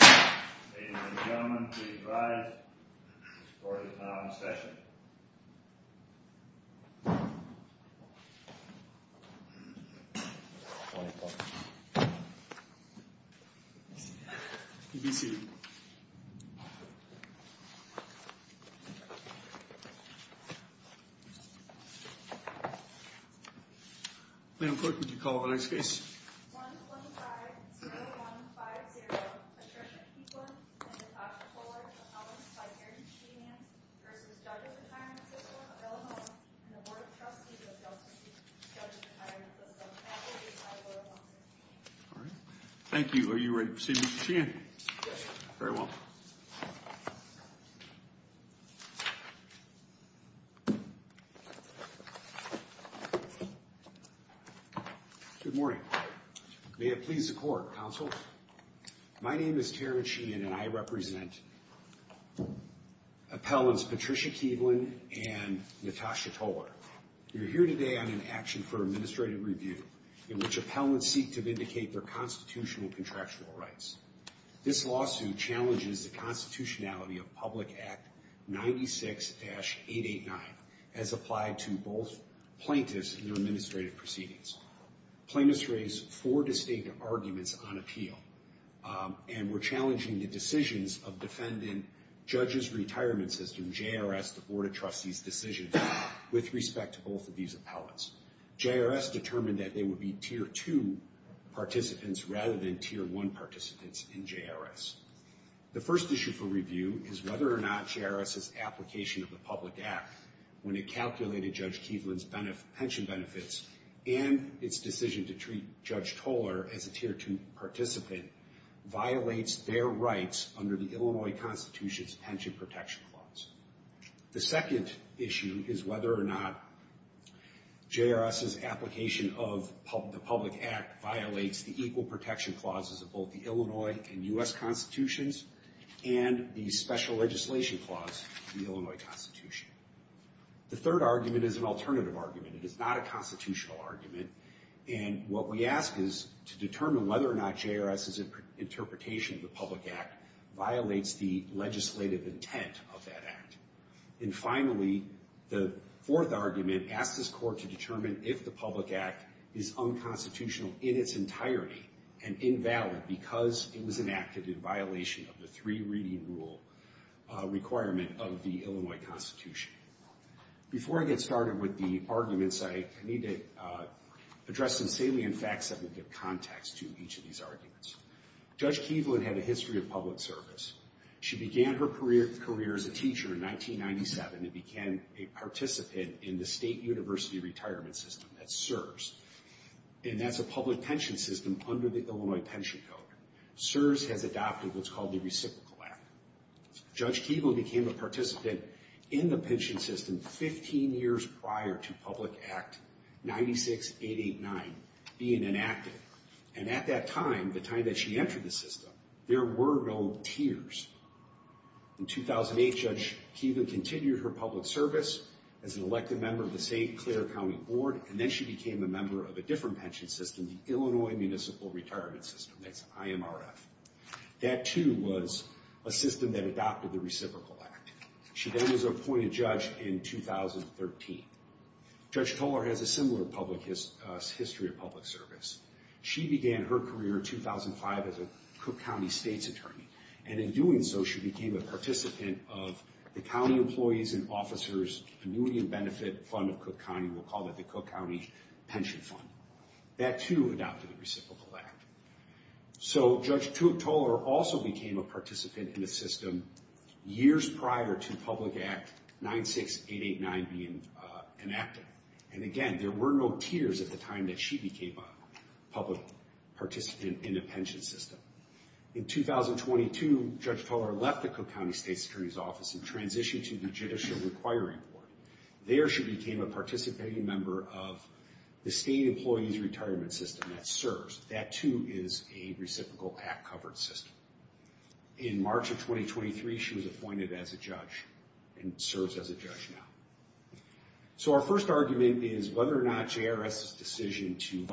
Ladies and gentlemen, please rise. The court is now in session. The court is now in session. Thank you. Are you ready to see Mr. Sheehan? Yes, sir. Very well. Good morning. May it please the court, counsel. My name is Terrence Sheehan, and I represent appellants Patricia Keevlan and Natasha Toler. You're here today on an action for administrative review in which appellants seek to vindicate their constitutional contractual rights. This lawsuit challenges the constitutionality of Public Act 96-889 as applied to both plaintiffs and their administrative proceedings. Plaintiffs raised four distinct arguments on appeal and were challenging the decisions of defendant judges retirement system, JRS, as well as the Board of Trustees' decisions with respect to both of these appellants. JRS determined that they would be Tier 2 participants rather than Tier 1 participants in JRS. The first issue for review is whether or not JRS's application of the Public Act, when it calculated Judge Keevlan's pension benefits and its decision to treat Judge Toler as a Tier 2 participant, violates their rights under the Illinois Constitution's pension protection clause. The second issue is whether or not JRS's application of the Public Act violates the equal protection clauses of both the Illinois and U.S. Constitutions and the special legislation clause of the Illinois Constitution. The third argument is an alternative argument. It is not a constitutional argument. And what we ask is to determine whether or not JRS's interpretation of the Public Act violates the legislative intent of that act. And finally, the fourth argument asks this court to determine if the Public Act is unconstitutional in its entirety and invalid because it was enacted in violation of the three-reading rule requirement of the Illinois Constitution. Before I get started with the arguments, I need to address some salient facts that will give context to each of these arguments. Judge Keevlan had a history of public service. She began her career as a teacher in 1997 and became a participant in the state university retirement system, that's SURS. And that's a public pension system under the Illinois Pension Code. SURS has adopted what's called the Reciprocal Act. Judge Keevlan became a participant in the pension system 15 years prior to Public Act 96-889 being enacted. And at that time, the time that she entered the system, there were no tiers. In 2008, Judge Keevlan continued her public service as an elected member of the St. Clair County Board and then she became a member of a different pension system, the Illinois Municipal Retirement System, that's IMRF. That, too, was a system that adopted the Reciprocal Act. She then was appointed judge in 2013. Judge Tolar has a similar public history of public service. She began her career in 2005 as a Cook County State's Attorney. And in doing so, she became a participant of the County Employees and Officers Annuity and Benefit Fund of Cook County. We'll call it the Cook County Pension Fund. That, too, adopted the Reciprocal Act. So Judge Tolar also became a participant in the system years prior to Public Act 96-889 being enacted. And again, there were no tiers at the time that she became a public participant in the pension system. In 2022, Judge Tolar left the Cook County State's Attorney's Office and transitioned to the Judicial Requiring Board. There, she became a participating member of the State Employees Retirement System, that serves. That, too, is a Reciprocal Act-covered system. In March of 2023, she was appointed as a judge and serves as a judge now. So our first argument is whether or not JRS's decision to—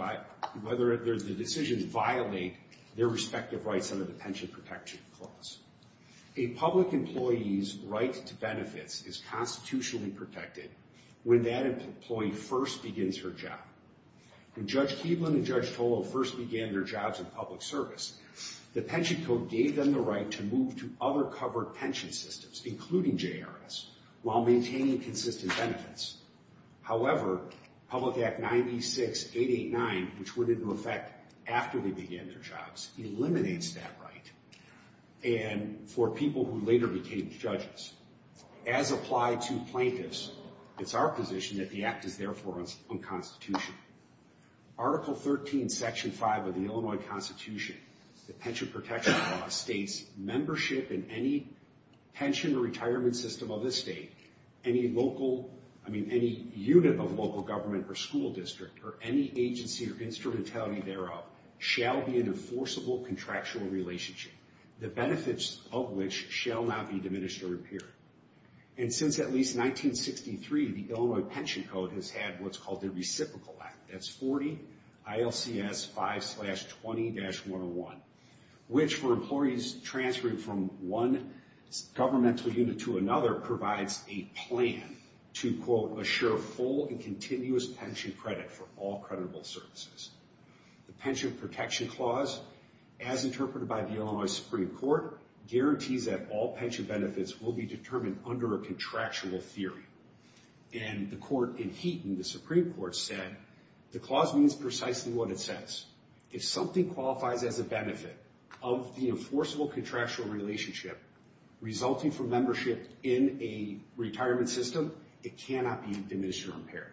whether the decision to violate their respective rights under the Pension Protection Clause. A public employee's right to benefits is constitutionally protected when that employee first begins her job. When Judge Keeblin and Judge Tolar first began their jobs in public service, the Pension Code gave them the right to move to other covered pension systems, including JRS, while maintaining consistent benefits. However, Public Act 96-889, which went into effect after they began their jobs, eliminates that right. And for people who later became judges, as applied to plaintiffs, it's our position that the act is therefore unconstitutional. Article 13, Section 5 of the Illinois Constitution, the Pension Protection Clause, states, membership in any pension or retirement system of the state, any local— I mean, any unit of local government or school district, or any agency or instrumentality thereof, shall be in a forcible contractual relationship, the benefits of which shall not be diminished or impaired. And since at least 1963, the Illinois Pension Code has had what's called the Reciprocal Act. That's 40 ILCS 5-20-101, which, for employees transferring from one governmental unit to another, provides a plan to, quote, assure full and continuous pension credit for all creditable services. The Pension Protection Clause, as interpreted by the Illinois Supreme Court, guarantees that all pension benefits will be determined under a contractual theory. And the court in Heaton, the Supreme Court, said the clause means precisely what it says. If something qualifies as a benefit of the enforceable contractual relationship, resulting from membership in a retirement system, it cannot be diminished or impaired.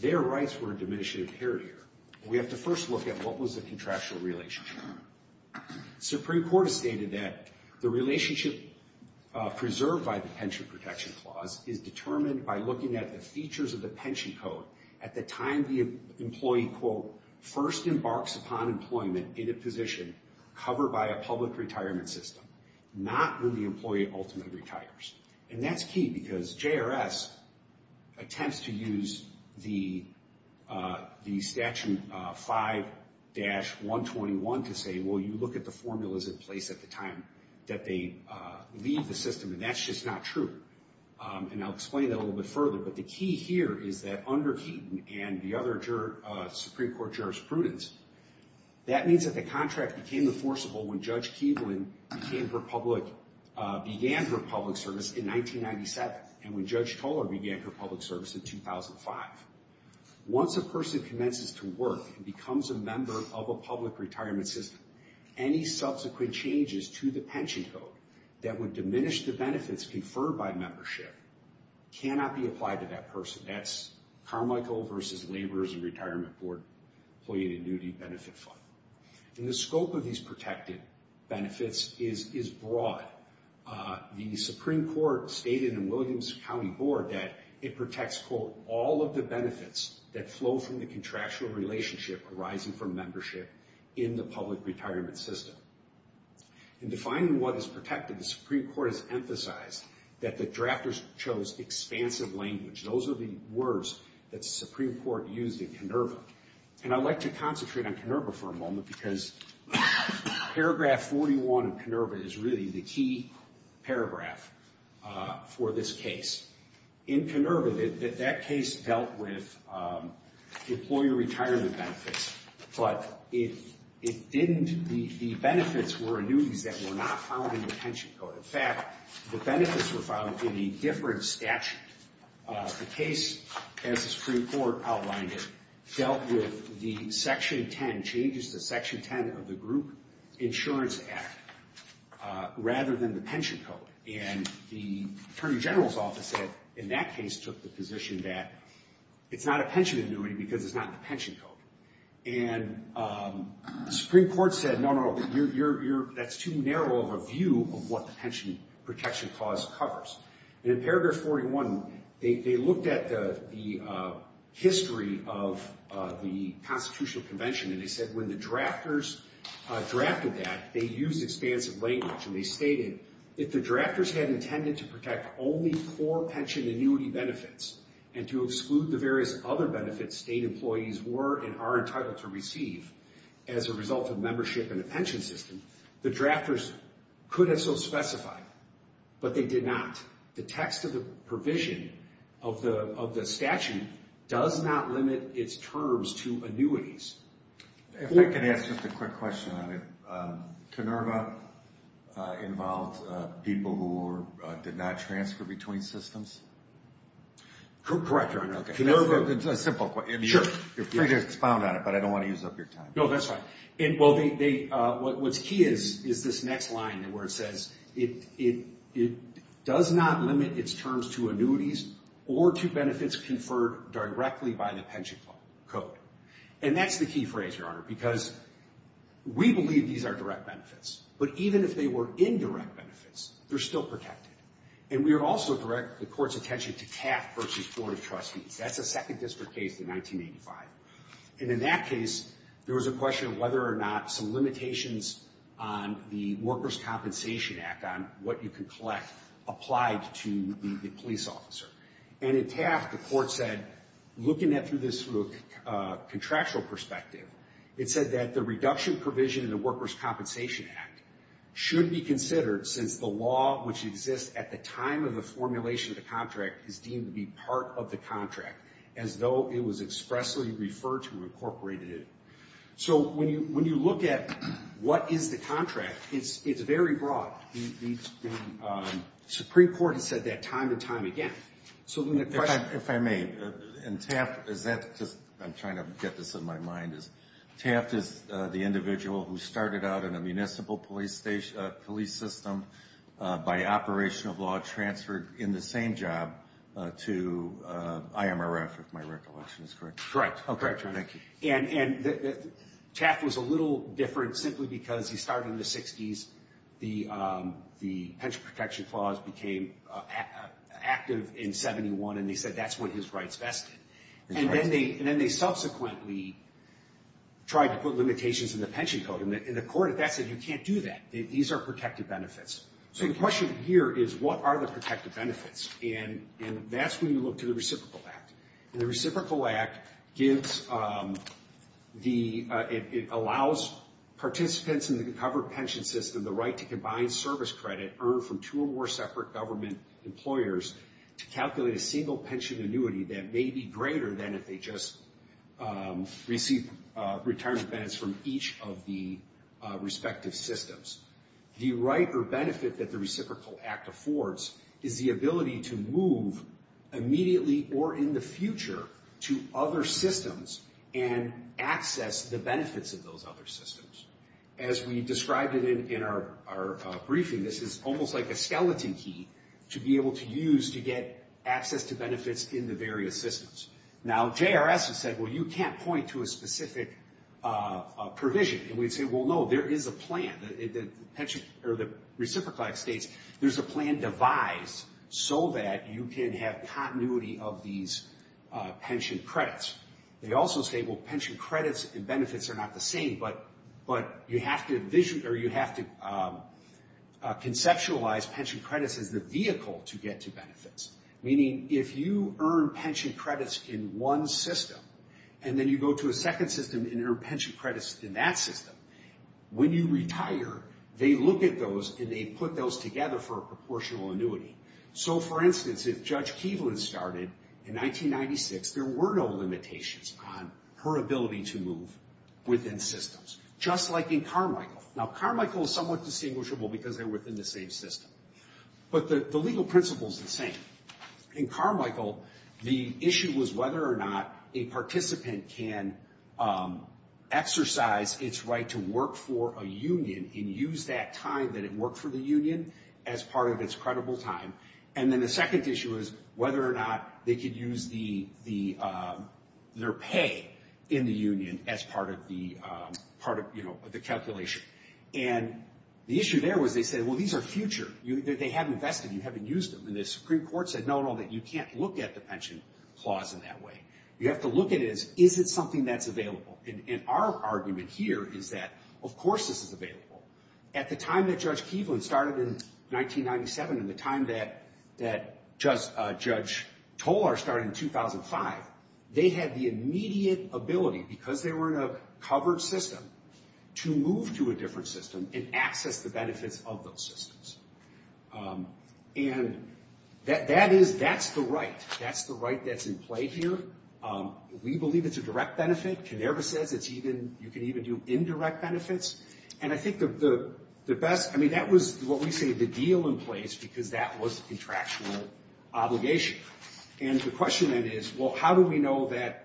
Their rights were diminished or impaired here. We have to first look at what was the contractual relationship. The Supreme Court has stated that the relationship preserved by the Pension Protection Clause is determined by looking at the features of the pension code at the time the employee, quote, first embarks upon employment in a position covered by a public retirement system, not when the employee ultimately retires. And that's key because JRS attempts to use the Statute 5-121 to say, well, you look at the formulas in place at the time that they leave the system, and that's just not true. And I'll explain that a little bit further, but the key here is that under Heaton and the other Supreme Court jurisprudence, that means that the contract became enforceable when Judge Keevlin began her public service in 1997 and when Judge Tolar began her public service in 2005. Once a person commences to work and becomes a member of a public retirement system, any subsequent changes to the pension code that would diminish the benefits conferred by membership cannot be applied to that person. That's Carmichael v. Laborers and Retirement Board Employee Dignity Benefit Fund. And the scope of these protected benefits is broad. The Supreme Court stated in Williams County Board that it protects, quote, all of the benefits that flow from the contractual relationship arising from membership in the public retirement system. In defining what is protected, the Supreme Court has emphasized that the drafters chose expansive language. Those are the words that the Supreme Court used in Kenurva. And I'd like to concentrate on Kenurva for a moment because paragraph 41 of Kenurva is really the key paragraph for this case. In Kenurva, that case dealt with employer retirement benefits, but the benefits were annuities that were not found in the pension code. In fact, the benefits were found in a different statute. The case, as the Supreme Court outlined it, dealt with the Section 10, changes to Section 10 of the Group Insurance Act, rather than the pension code. And the Attorney General's Office in that case took the position that it's not a pension annuity because it's not in the pension code. And the Supreme Court said, no, no, no, that's too narrow of a view of what the pension protection clause covers. And in paragraph 41, they looked at the history of the Constitutional Convention, and they said when the drafters drafted that, they used expansive language. And they stated, if the drafters had intended to protect only core pension annuity benefits and to exclude the various other benefits state employees were and are entitled to receive as a result of membership in a pension system, the drafters could have so specified. But they did not. The text of the provision of the statute does not limit its terms to annuities. If I could ask just a quick question on it. Canerva involved people who did not transfer between systems? Correct, Your Honor. Canerva, it's a simple question. Sure. You're free to expound on it, but I don't want to use up your time. No, that's fine. What's key is this next line where it says it does not limit its terms to annuities or to benefits conferred directly by the pension code. And that's the key phrase, Your Honor, because we believe these are direct benefits. But even if they were indirect benefits, they're still protected. And we would also direct the court's attention to CAF versus Board of Trustees. That's a second district case in 1985. And in that case, there was a question of whether or not some limitations on the Workers' Compensation Act, on what you can collect, applied to the police officer. And in CAF, the court said, looking at it through this sort of contractual perspective, it said that the reduction provision in the Workers' Compensation Act should be considered since the law which exists at the time of the formulation of the contract is deemed to be part of the contract, as though it was expressly referred to and incorporated in. So when you look at what is the contract, it's very broad. The Supreme Court has said that time and time again. If I may, in TAFT, I'm trying to get this in my mind, TAFT is the individual who started out in a municipal police system by operation of law, transferred in the same job to IMRF, if my recollection is correct. Correct. Thank you. And TAFT was a little different simply because he started in the 60s. The pension protection clause became active in 71, and they said that's what his rights vested. And then they subsequently tried to put limitations in the pension code. And the court at that said, you can't do that. These are protected benefits. So the question here is, what are the protected benefits? And that's when you look to the Reciprocal Act. And the Reciprocal Act gives the – it allows participants in the covered pension system the right to combine service credit earned from two or more separate government employers to calculate a single pension annuity that may be greater than if they just receive retirement benefits from each of the respective systems. The right or benefit that the Reciprocal Act affords is the ability to move immediately or in the future to other systems and access the benefits of those other systems. As we described it in our briefing, this is almost like a skeleton key to be able to use to get access to benefits in the various systems. Now, JRS has said, well, you can't point to a specific provision. And we'd say, well, no, there is a plan. The pension – or the Reciprocal Act states there's a plan devised so that you can have continuity of these pension credits. They also say, well, pension credits and benefits are not the same, but you have to envision or you have to conceptualize pension credits as the vehicle to get to benefits. Meaning, if you earn pension credits in one system and then you go to a second system and earn pension credits in that system, when you retire, they look at those and they put those together for a proportional annuity. So, for instance, if Judge Keevlin started in 1996, there were no limitations on her ability to move within systems, just like in Carmichael. Now, Carmichael is somewhat distinguishable because they're within the same system. But the legal principle is the same. In Carmichael, the issue was whether or not a participant can exercise its right to work for a union and use that time that it worked for the union as part of its credible time. And then the second issue is whether or not they could use their pay in the union as part of the calculation. And the issue there was they said, well, these are future. They haven't invested. You haven't used them. And the Supreme Court said, no, no, that you can't look at the pension clause in that way. You have to look at it as, is it something that's available? And our argument here is that, of course, this is available. At the time that Judge Keevlin started in 1997 and the time that Judge Tolar started in 2005, they had the immediate ability, because they were in a covered system, to move to a different system and access the benefits of those systems. And that is, that's the right. That's the right that's in play here. We believe it's a direct benefit. Canara says it's even, you can even do indirect benefits. And I think the best, I mean, that was what we say the deal in place because that was a contractual obligation. And the question then is, well, how do we know that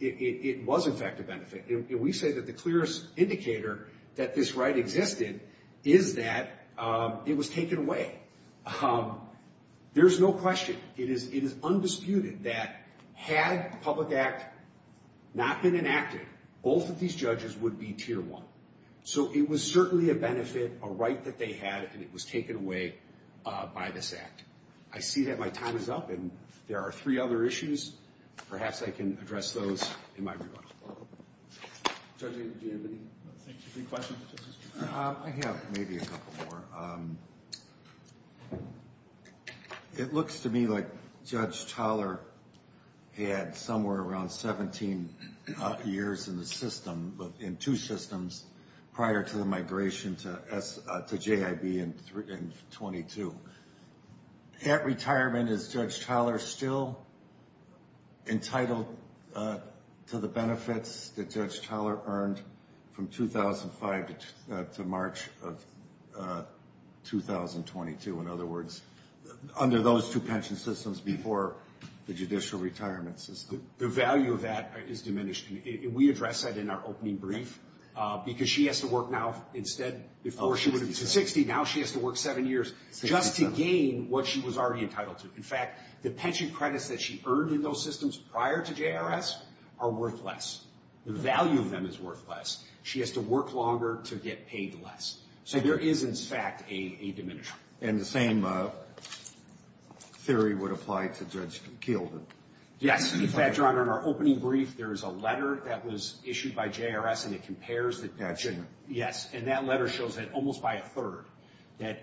it was, in fact, a benefit? And we say that the clearest indicator that this right existed is that it was taken away. There's no question. It is undisputed that had the Public Act not been enacted, both of these judges would be Tier 1. So it was certainly a benefit, a right that they had, and it was taken away by this act. I see that my time is up, and there are three other issues. Perhaps I can address those in my rebuttal. Judge, do you have any questions? I have maybe a couple more. It looks to me like Judge Tolar had somewhere around 17 years in the system, in two systems prior to the migration to JIB in 22. At retirement, is Judge Tolar still entitled to the benefits that Judge Tolar earned from 2005 to March of 2022? In other words, under those two pension systems before the judicial retirement system? The value of that is diminished. We addressed that in our opening brief, because she has to work now, instead, before she would have been 60. Now she has to work seven years just to gain what she was already entitled to. In fact, the pension credits that she earned in those systems prior to JRS are worth less. The value of them is worth less. She has to work longer to get paid less. So there is, in fact, a diminishment. And the same theory would apply to Judge Kiel? Yes. In fact, John, in our opening brief, there is a letter that was issued by JRS, and it compares the pension. Yes. And that letter shows that almost by a third in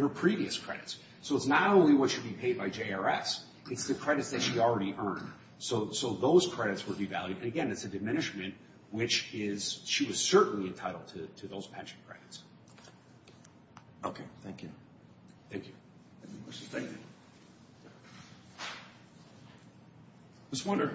her previous credits. So it's not only what should be paid by JRS, it's the credits that she already earned. So those credits were devalued. And, again, it's a diminishment, which is she was certainly entitled to those pension credits. Okay. Thank you. Thank you. Thank you. Ms. Winter.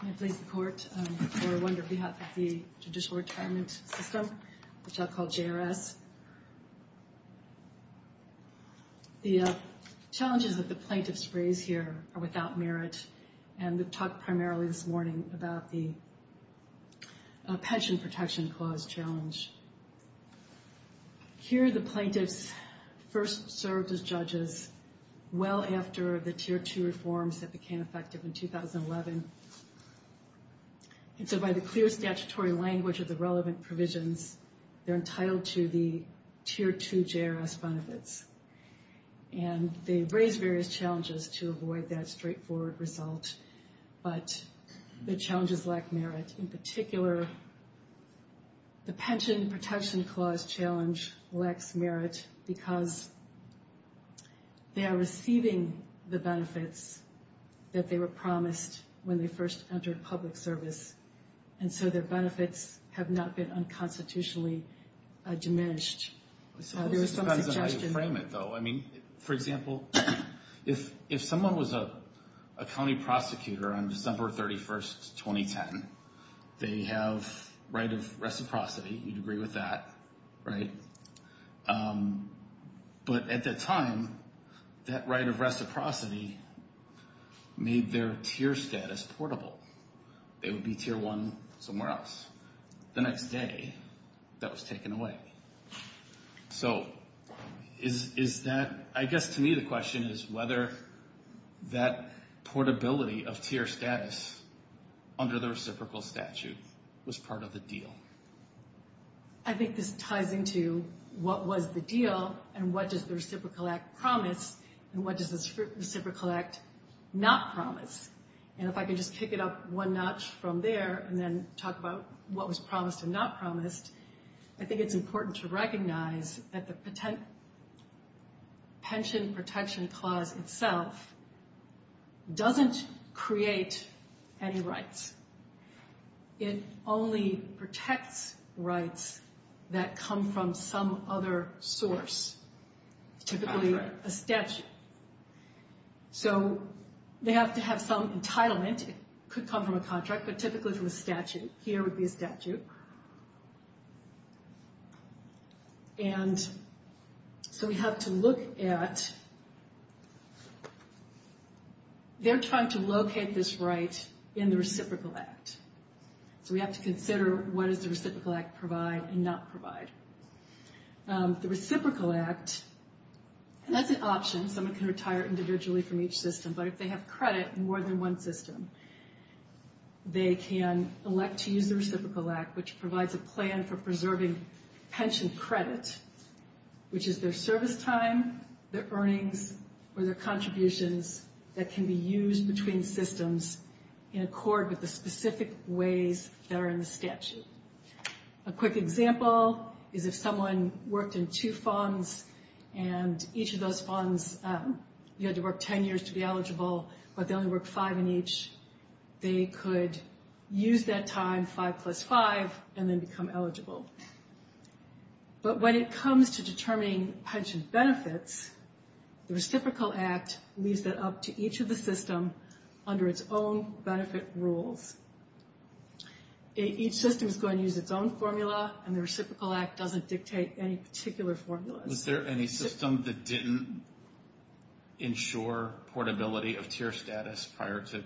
I plead the court for one, on behalf of the judicial retirement system, which I'll call JRS. The challenges that the plaintiffs raise here are without merit, and we've talked primarily this morning about the pension protection clause challenge. Here the plaintiffs first served as judges well after the Tier 2 reforms that became effective in 2011. And so by the clear statutory language of the relevant provisions, they're entitled to the Tier 2 JRS benefits. And they've raised various challenges to avoid that straightforward result, but the challenges lack merit. In particular, the pension protection clause challenge lacks merit because they are receiving the benefits that they were promised when they first entered public service, and so their benefits have not been unconstitutionally diminished. I suppose it depends on how you frame it, though. I mean, for example, if someone was a county prosecutor on December 31st, 2010, they have right of reciprocity. You'd agree with that, right? But at that time, that right of reciprocity made their tier status portable. They would be Tier 1 somewhere else. The next day, that was taken away. So is that, I guess to me the question is whether that portability of tier status under the reciprocal statute was part of the deal. I think this ties into what was the deal and what does the Reciprocal Act promise and what does the Reciprocal Act not promise. And if I could just kick it up one notch from there and then talk about what was promised and not promised, I think it's important to recognize that the pension protection clause itself doesn't create any rights. It only protects rights that come from some other source, typically a statute. So they have to have some entitlement. It could come from a contract, but typically from a statute. Here would be a statute. And so we have to look at, they're trying to locate this right in the Reciprocal Act. So we have to consider what does the Reciprocal Act provide and not provide. The Reciprocal Act, and that's an option. Someone can retire individually from each system, but if they have credit in more than one system, they can elect to use the Reciprocal Act, which provides a plan for preserving pension credit, which is their service time, their earnings, or their contributions that can be used between systems in accord with the specific ways that are in the statute. A quick example is if someone worked in two funds and each of those funds, you had to work 10 years to be eligible, but they only worked five in each, they could use that time, five plus five, and then become eligible. But when it comes to determining pension benefits, the Reciprocal Act leaves that up to each of the systems under its own benefit rules. Each system is going to use its own formula, and the Reciprocal Act doesn't dictate any particular formula. Was there any system that didn't ensure portability of tier status prior to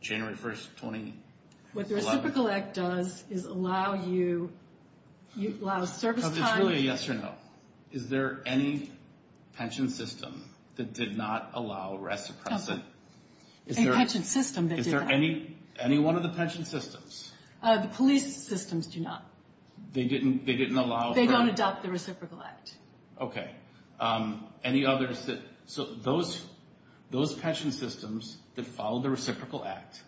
January 1st, 2011? What the Reciprocal Act does is allow you service time... It's really a yes or no. Is there any pension system that did not allow reciprocity? Any pension system that did that. Is there any one of the pension systems? The police systems do not. They didn't allow... They don't adopt the Reciprocal Act. Okay. Any others that... Those pension systems that follow the Reciprocal Act,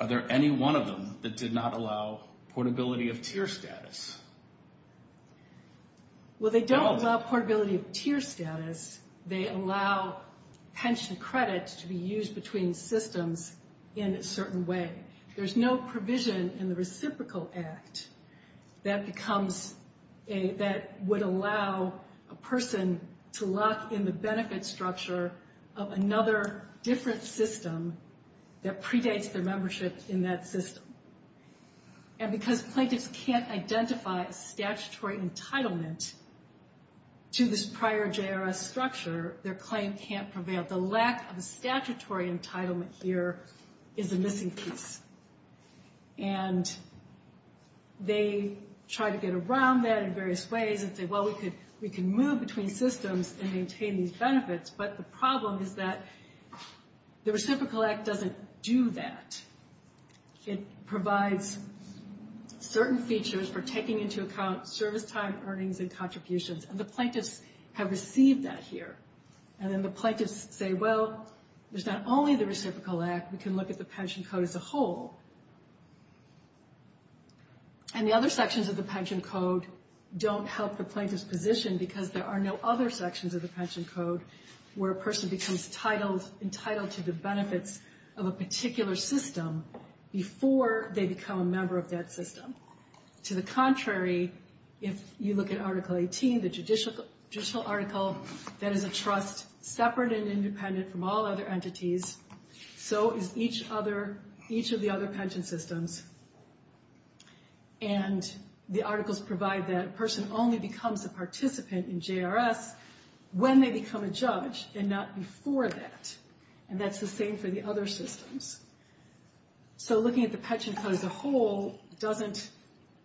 are there any one of them that did not allow portability of tier status? Well, they don't allow portability of tier status. They allow pension credits to be used between systems in a certain way. There's no provision in the Reciprocal Act that would allow a person to lock in the benefit structure of another different system that predates their membership in that system. And because plaintiffs can't identify statutory entitlement to this prior JRS structure, their claim can't prevail. The lack of a statutory entitlement here is a missing piece. And they try to get around that in various ways and say, well, we can move between systems and maintain these benefits. But the problem is that the Reciprocal Act doesn't do that. It provides certain features for taking into account service time, earnings, and contributions. And the plaintiffs have received that here. And then the plaintiffs say, well, there's not only the Reciprocal Act. We can look at the pension code as a whole. And the other sections of the pension code don't help the plaintiff's position because there are no other sections of the pension code where a person becomes entitled to the benefits of a particular system before they become a member of that system. To the contrary, if you look at Article 18, the judicial article, that is a trust separate and independent from all other entities, so is each of the other pension systems. And the articles provide that a person only becomes a participant in JRS when they become a judge and not before that. And that's the same for the other systems. So looking at the pension code as a whole doesn't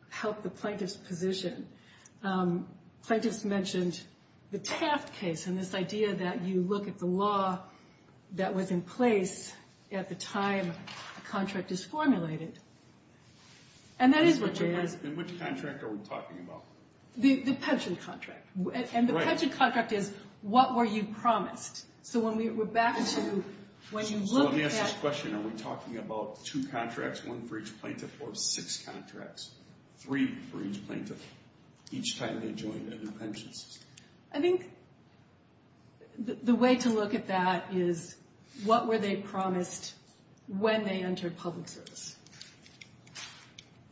help the plaintiff's position. Plaintiffs mentioned the Taft case and this idea that you look at the law that was in place at the time a contract is formulated. And that is what JRS... In which contract are we talking about? The pension contract. And the pension contract is what were you promised? So we're back to when you look at... So let me ask this question. Are we talking about two contracts, one for each plaintiff, or six contracts, three for each plaintiff each time they joined a new pension system? I think the way to look at that is what were they promised when they entered public service?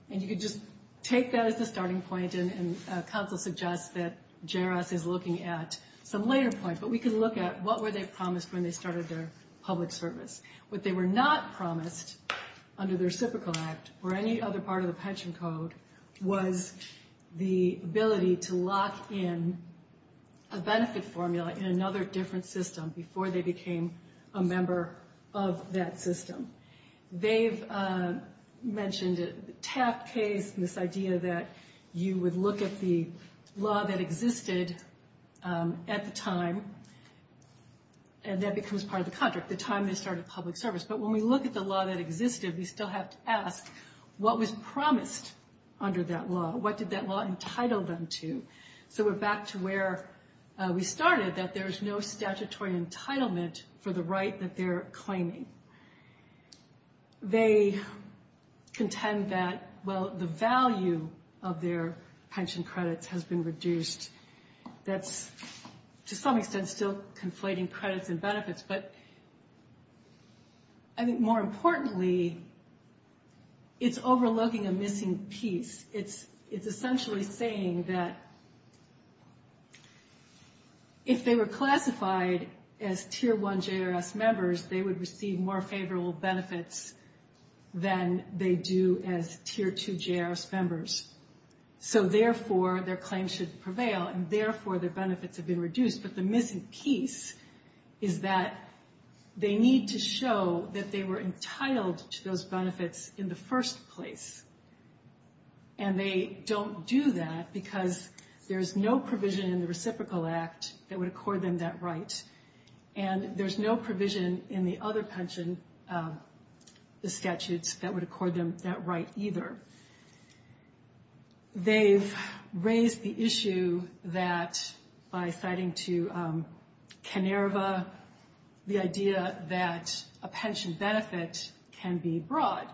And you could just take that as the starting point, and counsel suggests that JRS is looking at some later points. But we can look at what were they promised when they started their public service. What they were not promised under the Reciprocal Act or any other part of the pension code was the ability to lock in a benefit formula in another different system before they became a member of that system. They've mentioned the Taft case, and this idea that you would look at the law that existed at the time, and that becomes part of the contract, the time they started public service. But when we look at the law that existed, we still have to ask what was promised under that law? What did that law entitle them to? So we're back to where we started, that there's no statutory entitlement for the right that they're claiming. They contend that, well, the value of their pension credits has been reduced. That's, to some extent, still conflating credits and benefits, but I think more importantly, it's overlooking a missing piece. It's essentially saying that if they were classified as Tier 1 JRS members, they would receive more favorable benefits than they do as Tier 2 JRS members. So therefore, their claims should prevail, and therefore their benefits have been reduced. But the missing piece is that they need to show that they were entitled to those benefits in the first place, and they don't do that because there's no provision in the Reciprocal Act that would accord them that right, and there's no provision in the other pension statutes that would accord them that right, either. They've raised the issue that, by citing to Kanerva, the idea that a pension benefit can be broad.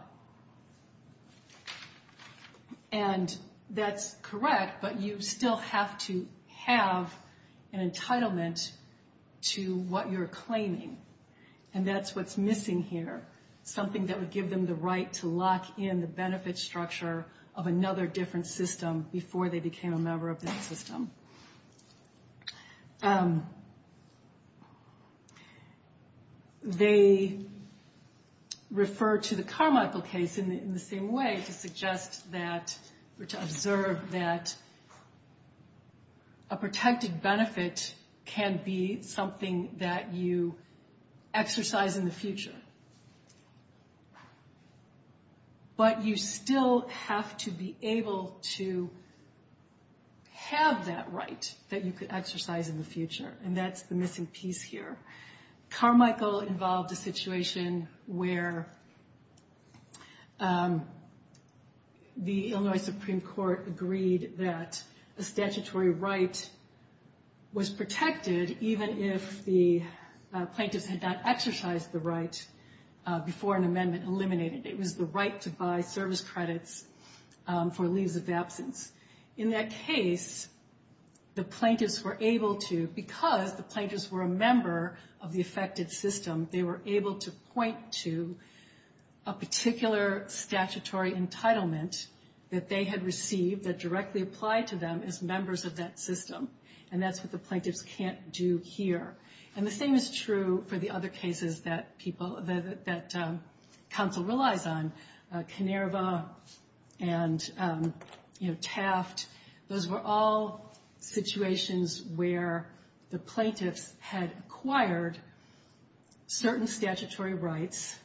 And that's correct, but you still have to have an entitlement to what you're claiming, and that's what's missing here, something that would give them the right to lock in the benefit structure of another different system before they became a member of that system. They refer to the Carmichael case in the same way to suggest that, or to observe that, a protected benefit can be something that you exercise in the future. But you still have to be able to have that right that you could exercise in the future, and that's the missing piece here. Carmichael involved a situation where the Illinois Supreme Court agreed that a statutory right was protected even if the plaintiffs had not exercised the right before an amendment eliminated it. It was the right to buy service credits for leaves of absence. In that case, the plaintiffs were able to, because the plaintiffs were a member of the affected system, they were able to point to a particular statutory entitlement that they had received that directly applied to them as members of that system, and that's what the plaintiffs can't do here. And the same is true for the other cases that counsel relies on, Kinnerva and Taft, those were all situations where the plaintiffs had acquired certain statutory rights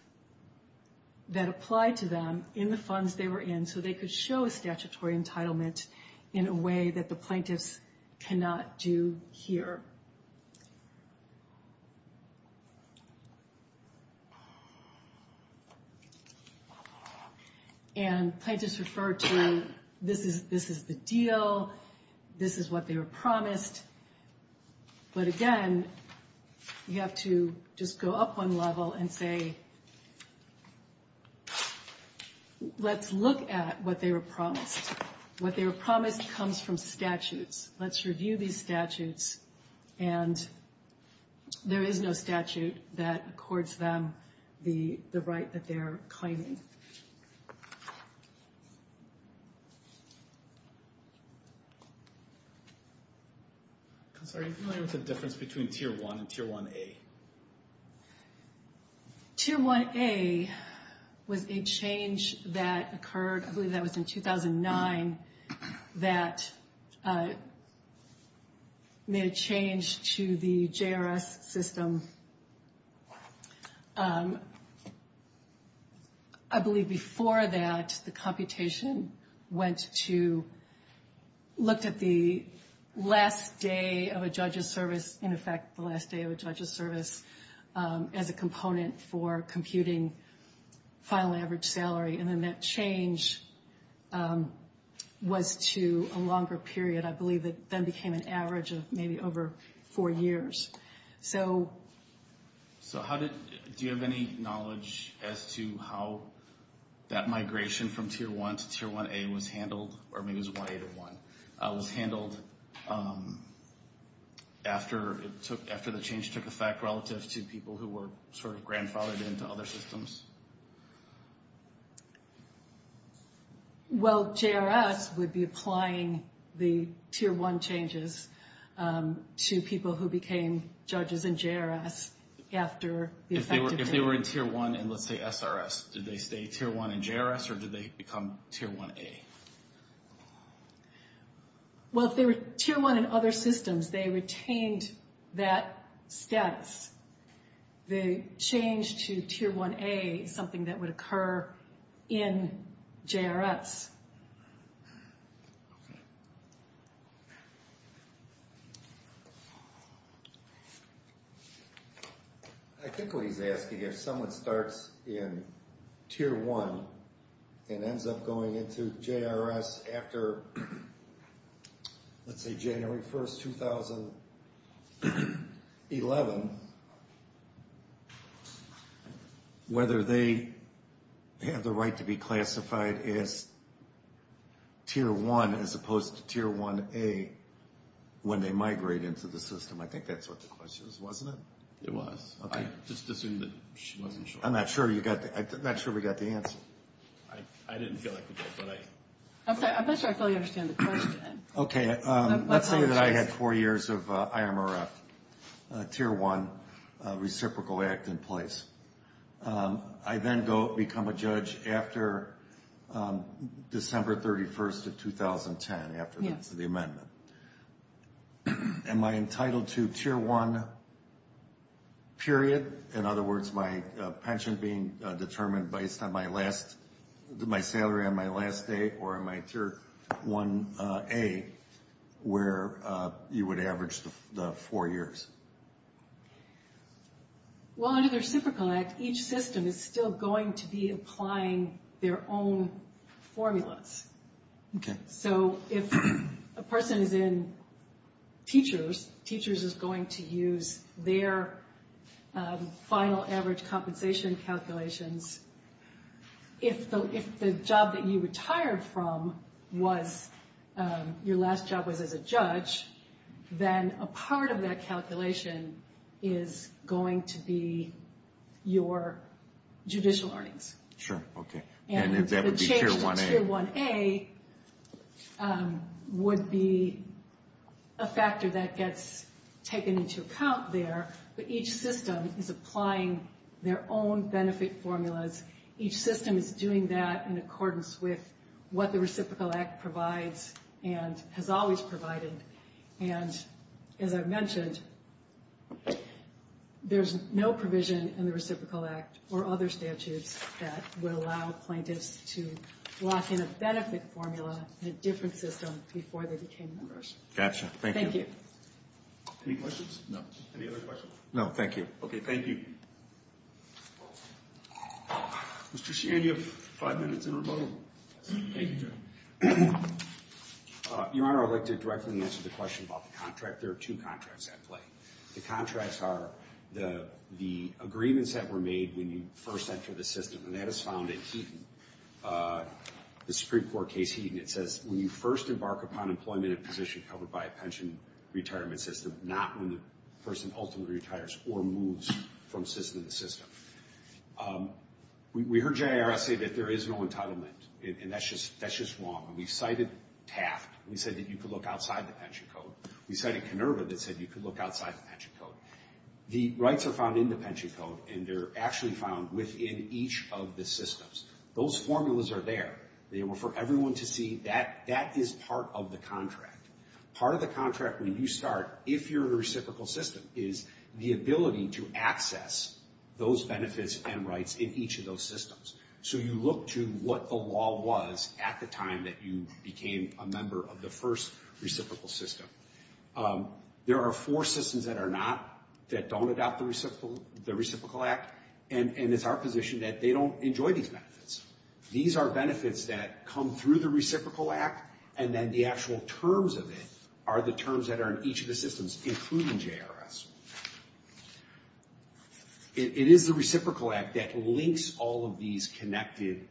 that applied to them in the funds they were in, so they could show a statutory entitlement in a way that the plaintiffs cannot do here. And plaintiffs refer to, this is the deal, this is what they were promised, but again, you have to just go up one level and say, let's look at what they were promised. What they were promised comes from statutes. Let's review these statutes, and there is no statute that accords them the right that they're claiming. I'm sorry, are you familiar with the difference between Tier 1 and Tier 1A? Tier 1A was a change that occurred, I believe that was in 2009, that made a change to the JRS system. I believe before that, the computation went to, looked at the last day of a judge's service, in effect the last day of a judge's service, as a component for computing final average salary, and then that change was to a longer period, I believe it then became an average of maybe over four years. Do you have any knowledge as to how that migration from Tier 1 to Tier 1A was handled, or maybe it was 1A to 1, was handled after the change took effect relative to people who were sort of grandfathered into other systems? Well, JRS would be applying the Tier 1 changes to people who became judges in JRS after the effect of... If they were in Tier 1 in, let's say, SRS, did they stay Tier 1 in JRS, or did they become Tier 1A? Well, if they were Tier 1 in other systems, they retained that status. The change to Tier 1A is something that would occur in JRS. I think what he's asking is if someone starts in Tier 1 and ends up going into JRS after, let's say, January 1st, 2011, whether they have the right to be classified as Tier 1 as opposed to Tier 1A when they migrate into the system. I think that's what the question is, wasn't it? It was. Okay. I just assumed that she wasn't sure. I'm not sure we got the answer. I didn't feel like we did, but I... I'm sorry, I'm not sure I fully understand the question. Okay. Let's say that I had four years of IMRF, Tier 1 reciprocal act in place. I then become a judge after December 31st of 2010, after the end of the amendment. Am I entitled to Tier 1, period? In other words, my pension being determined based on my last... my salary on my last day or on my Tier 1A, where you would average the four years? Well, under the reciprocal act, each system is still going to be applying their own formulas. Okay. So if a person is in Teachers, Teachers is going to use their final average compensation calculations. If the job that you retired from was... your last job was as a judge, then a part of that calculation is going to be your judicial earnings. Sure. Okay. And that would be Tier 1A. And the change to Tier 1A would be a factor that gets taken into account there, but each system is applying their own benefit formulas. Each system is doing that in accordance with what the reciprocal act provides and has always provided. And as I mentioned, there's no provision in the reciprocal act or other statutes that would allow plaintiffs to lock in a benefit formula in a different system before they became members. Gotcha. Thank you. Thank you. Any questions? No. Any other questions? No, thank you. Okay, thank you. Mr. Sheehan, you have five minutes in rebuttal. Thank you, Judge. Your Honor, I'd like to directly answer the question about the contract. There are two contracts at play. The contracts are the agreements that were made when you first entered the system, and that is found in Heaton, the Supreme Court case Heaton. It says when you first embark upon employment in a position covered by a pension retirement system, not when the person ultimately retires or moves from the system. We heard JIRS say that there is no entitlement, and that's just wrong. We cited Taft. We said that you could look outside the pension code. We cited Kenurva that said you could look outside the pension code. The rights are found in the pension code, and they're actually found within each of the systems. Those formulas are there for everyone to see. That is part of the contract. Part of the contract when you start, if you're in a reciprocal system, is the ability to access those benefits and rights in each of those systems. So you look to what the law was at the time that you became a member of the first reciprocal system. There are four systems that are not, that don't adopt the Reciprocal Act, and it's our position that they don't enjoy these benefits. These are benefits that come through the Reciprocal Act, and then the actual terms of it are the terms that are in each of the systems, including JIRS. It is the Reciprocal Act that links all of these connected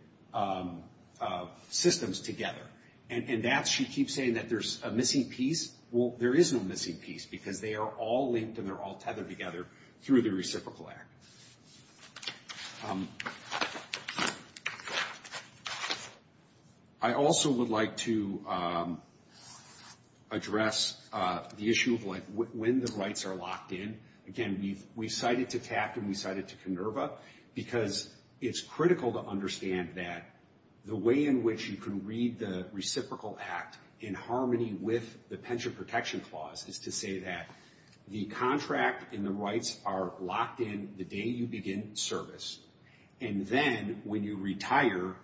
systems together, and that, she keeps saying that there's a missing piece. Well, there is no missing piece, because they are all linked and they're all tethered together through the Reciprocal Act. Thank you. I also would like to address the issue of when the rights are locked in. Again, we cite it to TAP and we cite it to CONERVA, because it's critical to understand that the way in which you can read the Reciprocal Act in harmony with the Pension Protection Clause is to say that the contract and the rights are locked in the day you begin service, and then when you retire,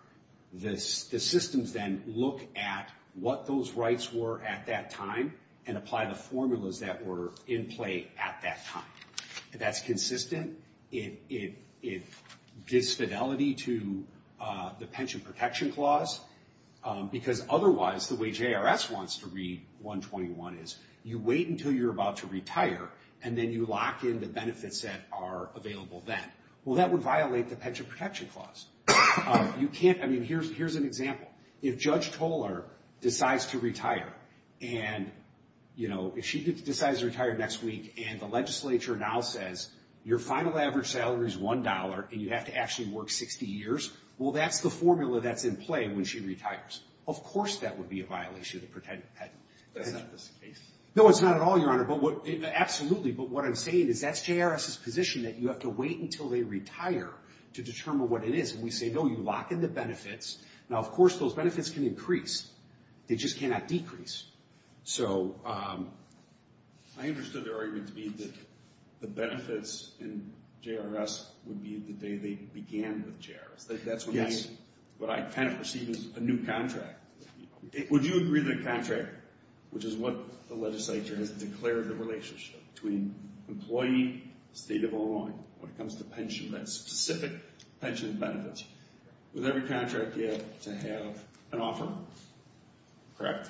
the systems then look at what those rights were at that time and apply the formulas that were in play at that time. If that's consistent, it gives fidelity to the Pension Protection Clause, because otherwise, the way JIRS wants to read 121 is, you wait until you're about to retire, and then you lock in the benefits that are available then. Well, that would violate the Pension Protection Clause. Here's an example. If Judge Tolar decides to retire next week and the legislature now says, your final average salary is $1 and you have to actually work 60 years, well, that's the formula that's in play when she retires. Of course that would be a violation of the Pension Protection Clause. That's not the case? No, it's not at all, Your Honor. Absolutely, but what I'm saying is that's JIRS's position, that you have to wait until they retire to determine what it is, and we say, no, you lock in the benefits. Now, of course, those benefits can increase. They just cannot decrease. I understood their argument to be that the benefits in JIRS would be the day they began with JIRS. Yes. That's what I kind of perceive as a new contract. Would you agree that a contract, which is what the legislature has declared the relationship between employee, state of Illinois, when it comes to pension, that specific pension benefits, with every contract you have to have an offer? Correct?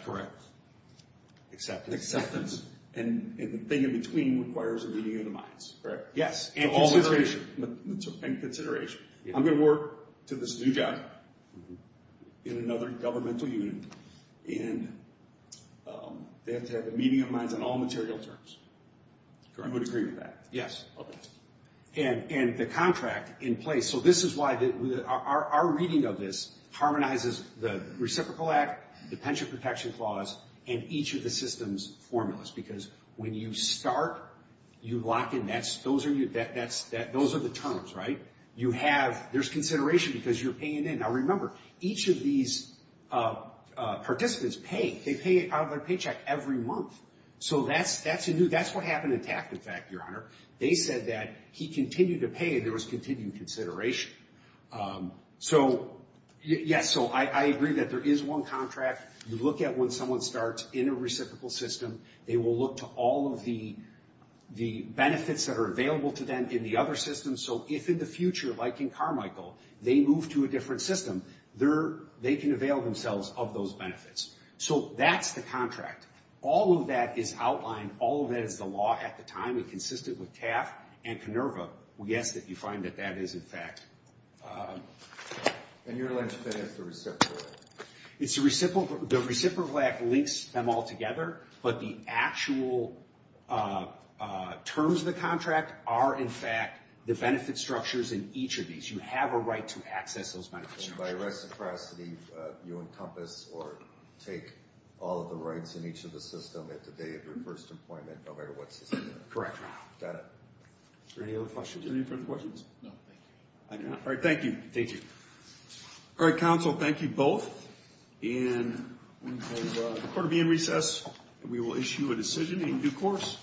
Acceptance? And the thing in between requires a reading of the minds, correct? Yes, and consideration. And consideration. I'm going to work to this new job in another governmental unit, and they have to have a meeting of minds on all material terms. I would agree with that. Yes. Okay. And the contract in place. So this is why our reading of this harmonizes the Reciprocal Act, the Pension Protection Clause, and each of the system's formulas, because when you start, you lock in, those are the terms, right? You have, there's consideration because you're paying in. Now, remember, each of these participants pay. They pay out of their paycheck every month. So that's a new, that's what happened in Taft, in fact, Your Honor. They said that he continued to pay, and there was continued consideration. So, yes, so I agree that there is one contract. You look at when someone starts in a reciprocal system, they will look to all of the benefits that are available to them in the other systems. So if in the future, like in Carmichael, they move to a different system, they can avail themselves of those benefits. So that's the contract. All of that is outlined. All of that is the law at the time. It consisted with Taft and Canerva. We ask that you find that that is, in fact. And you're alleging that it's a reciprocal? It's a reciprocal. The Reciprocal Act links them all together, but the actual terms of the contract are, in fact, the benefit structures in each of these. You have a right to access those benefits. So by reciprocity, you encompass or take all of the rights in each of the systems at the day of your first appointment, no matter what system? Correct. Got it. Any other questions? Any further questions? No, thank you. All right, thank you. Thank you. All right, counsel, thank you both. And we have the court to be in recess, and we will issue a decision in due course.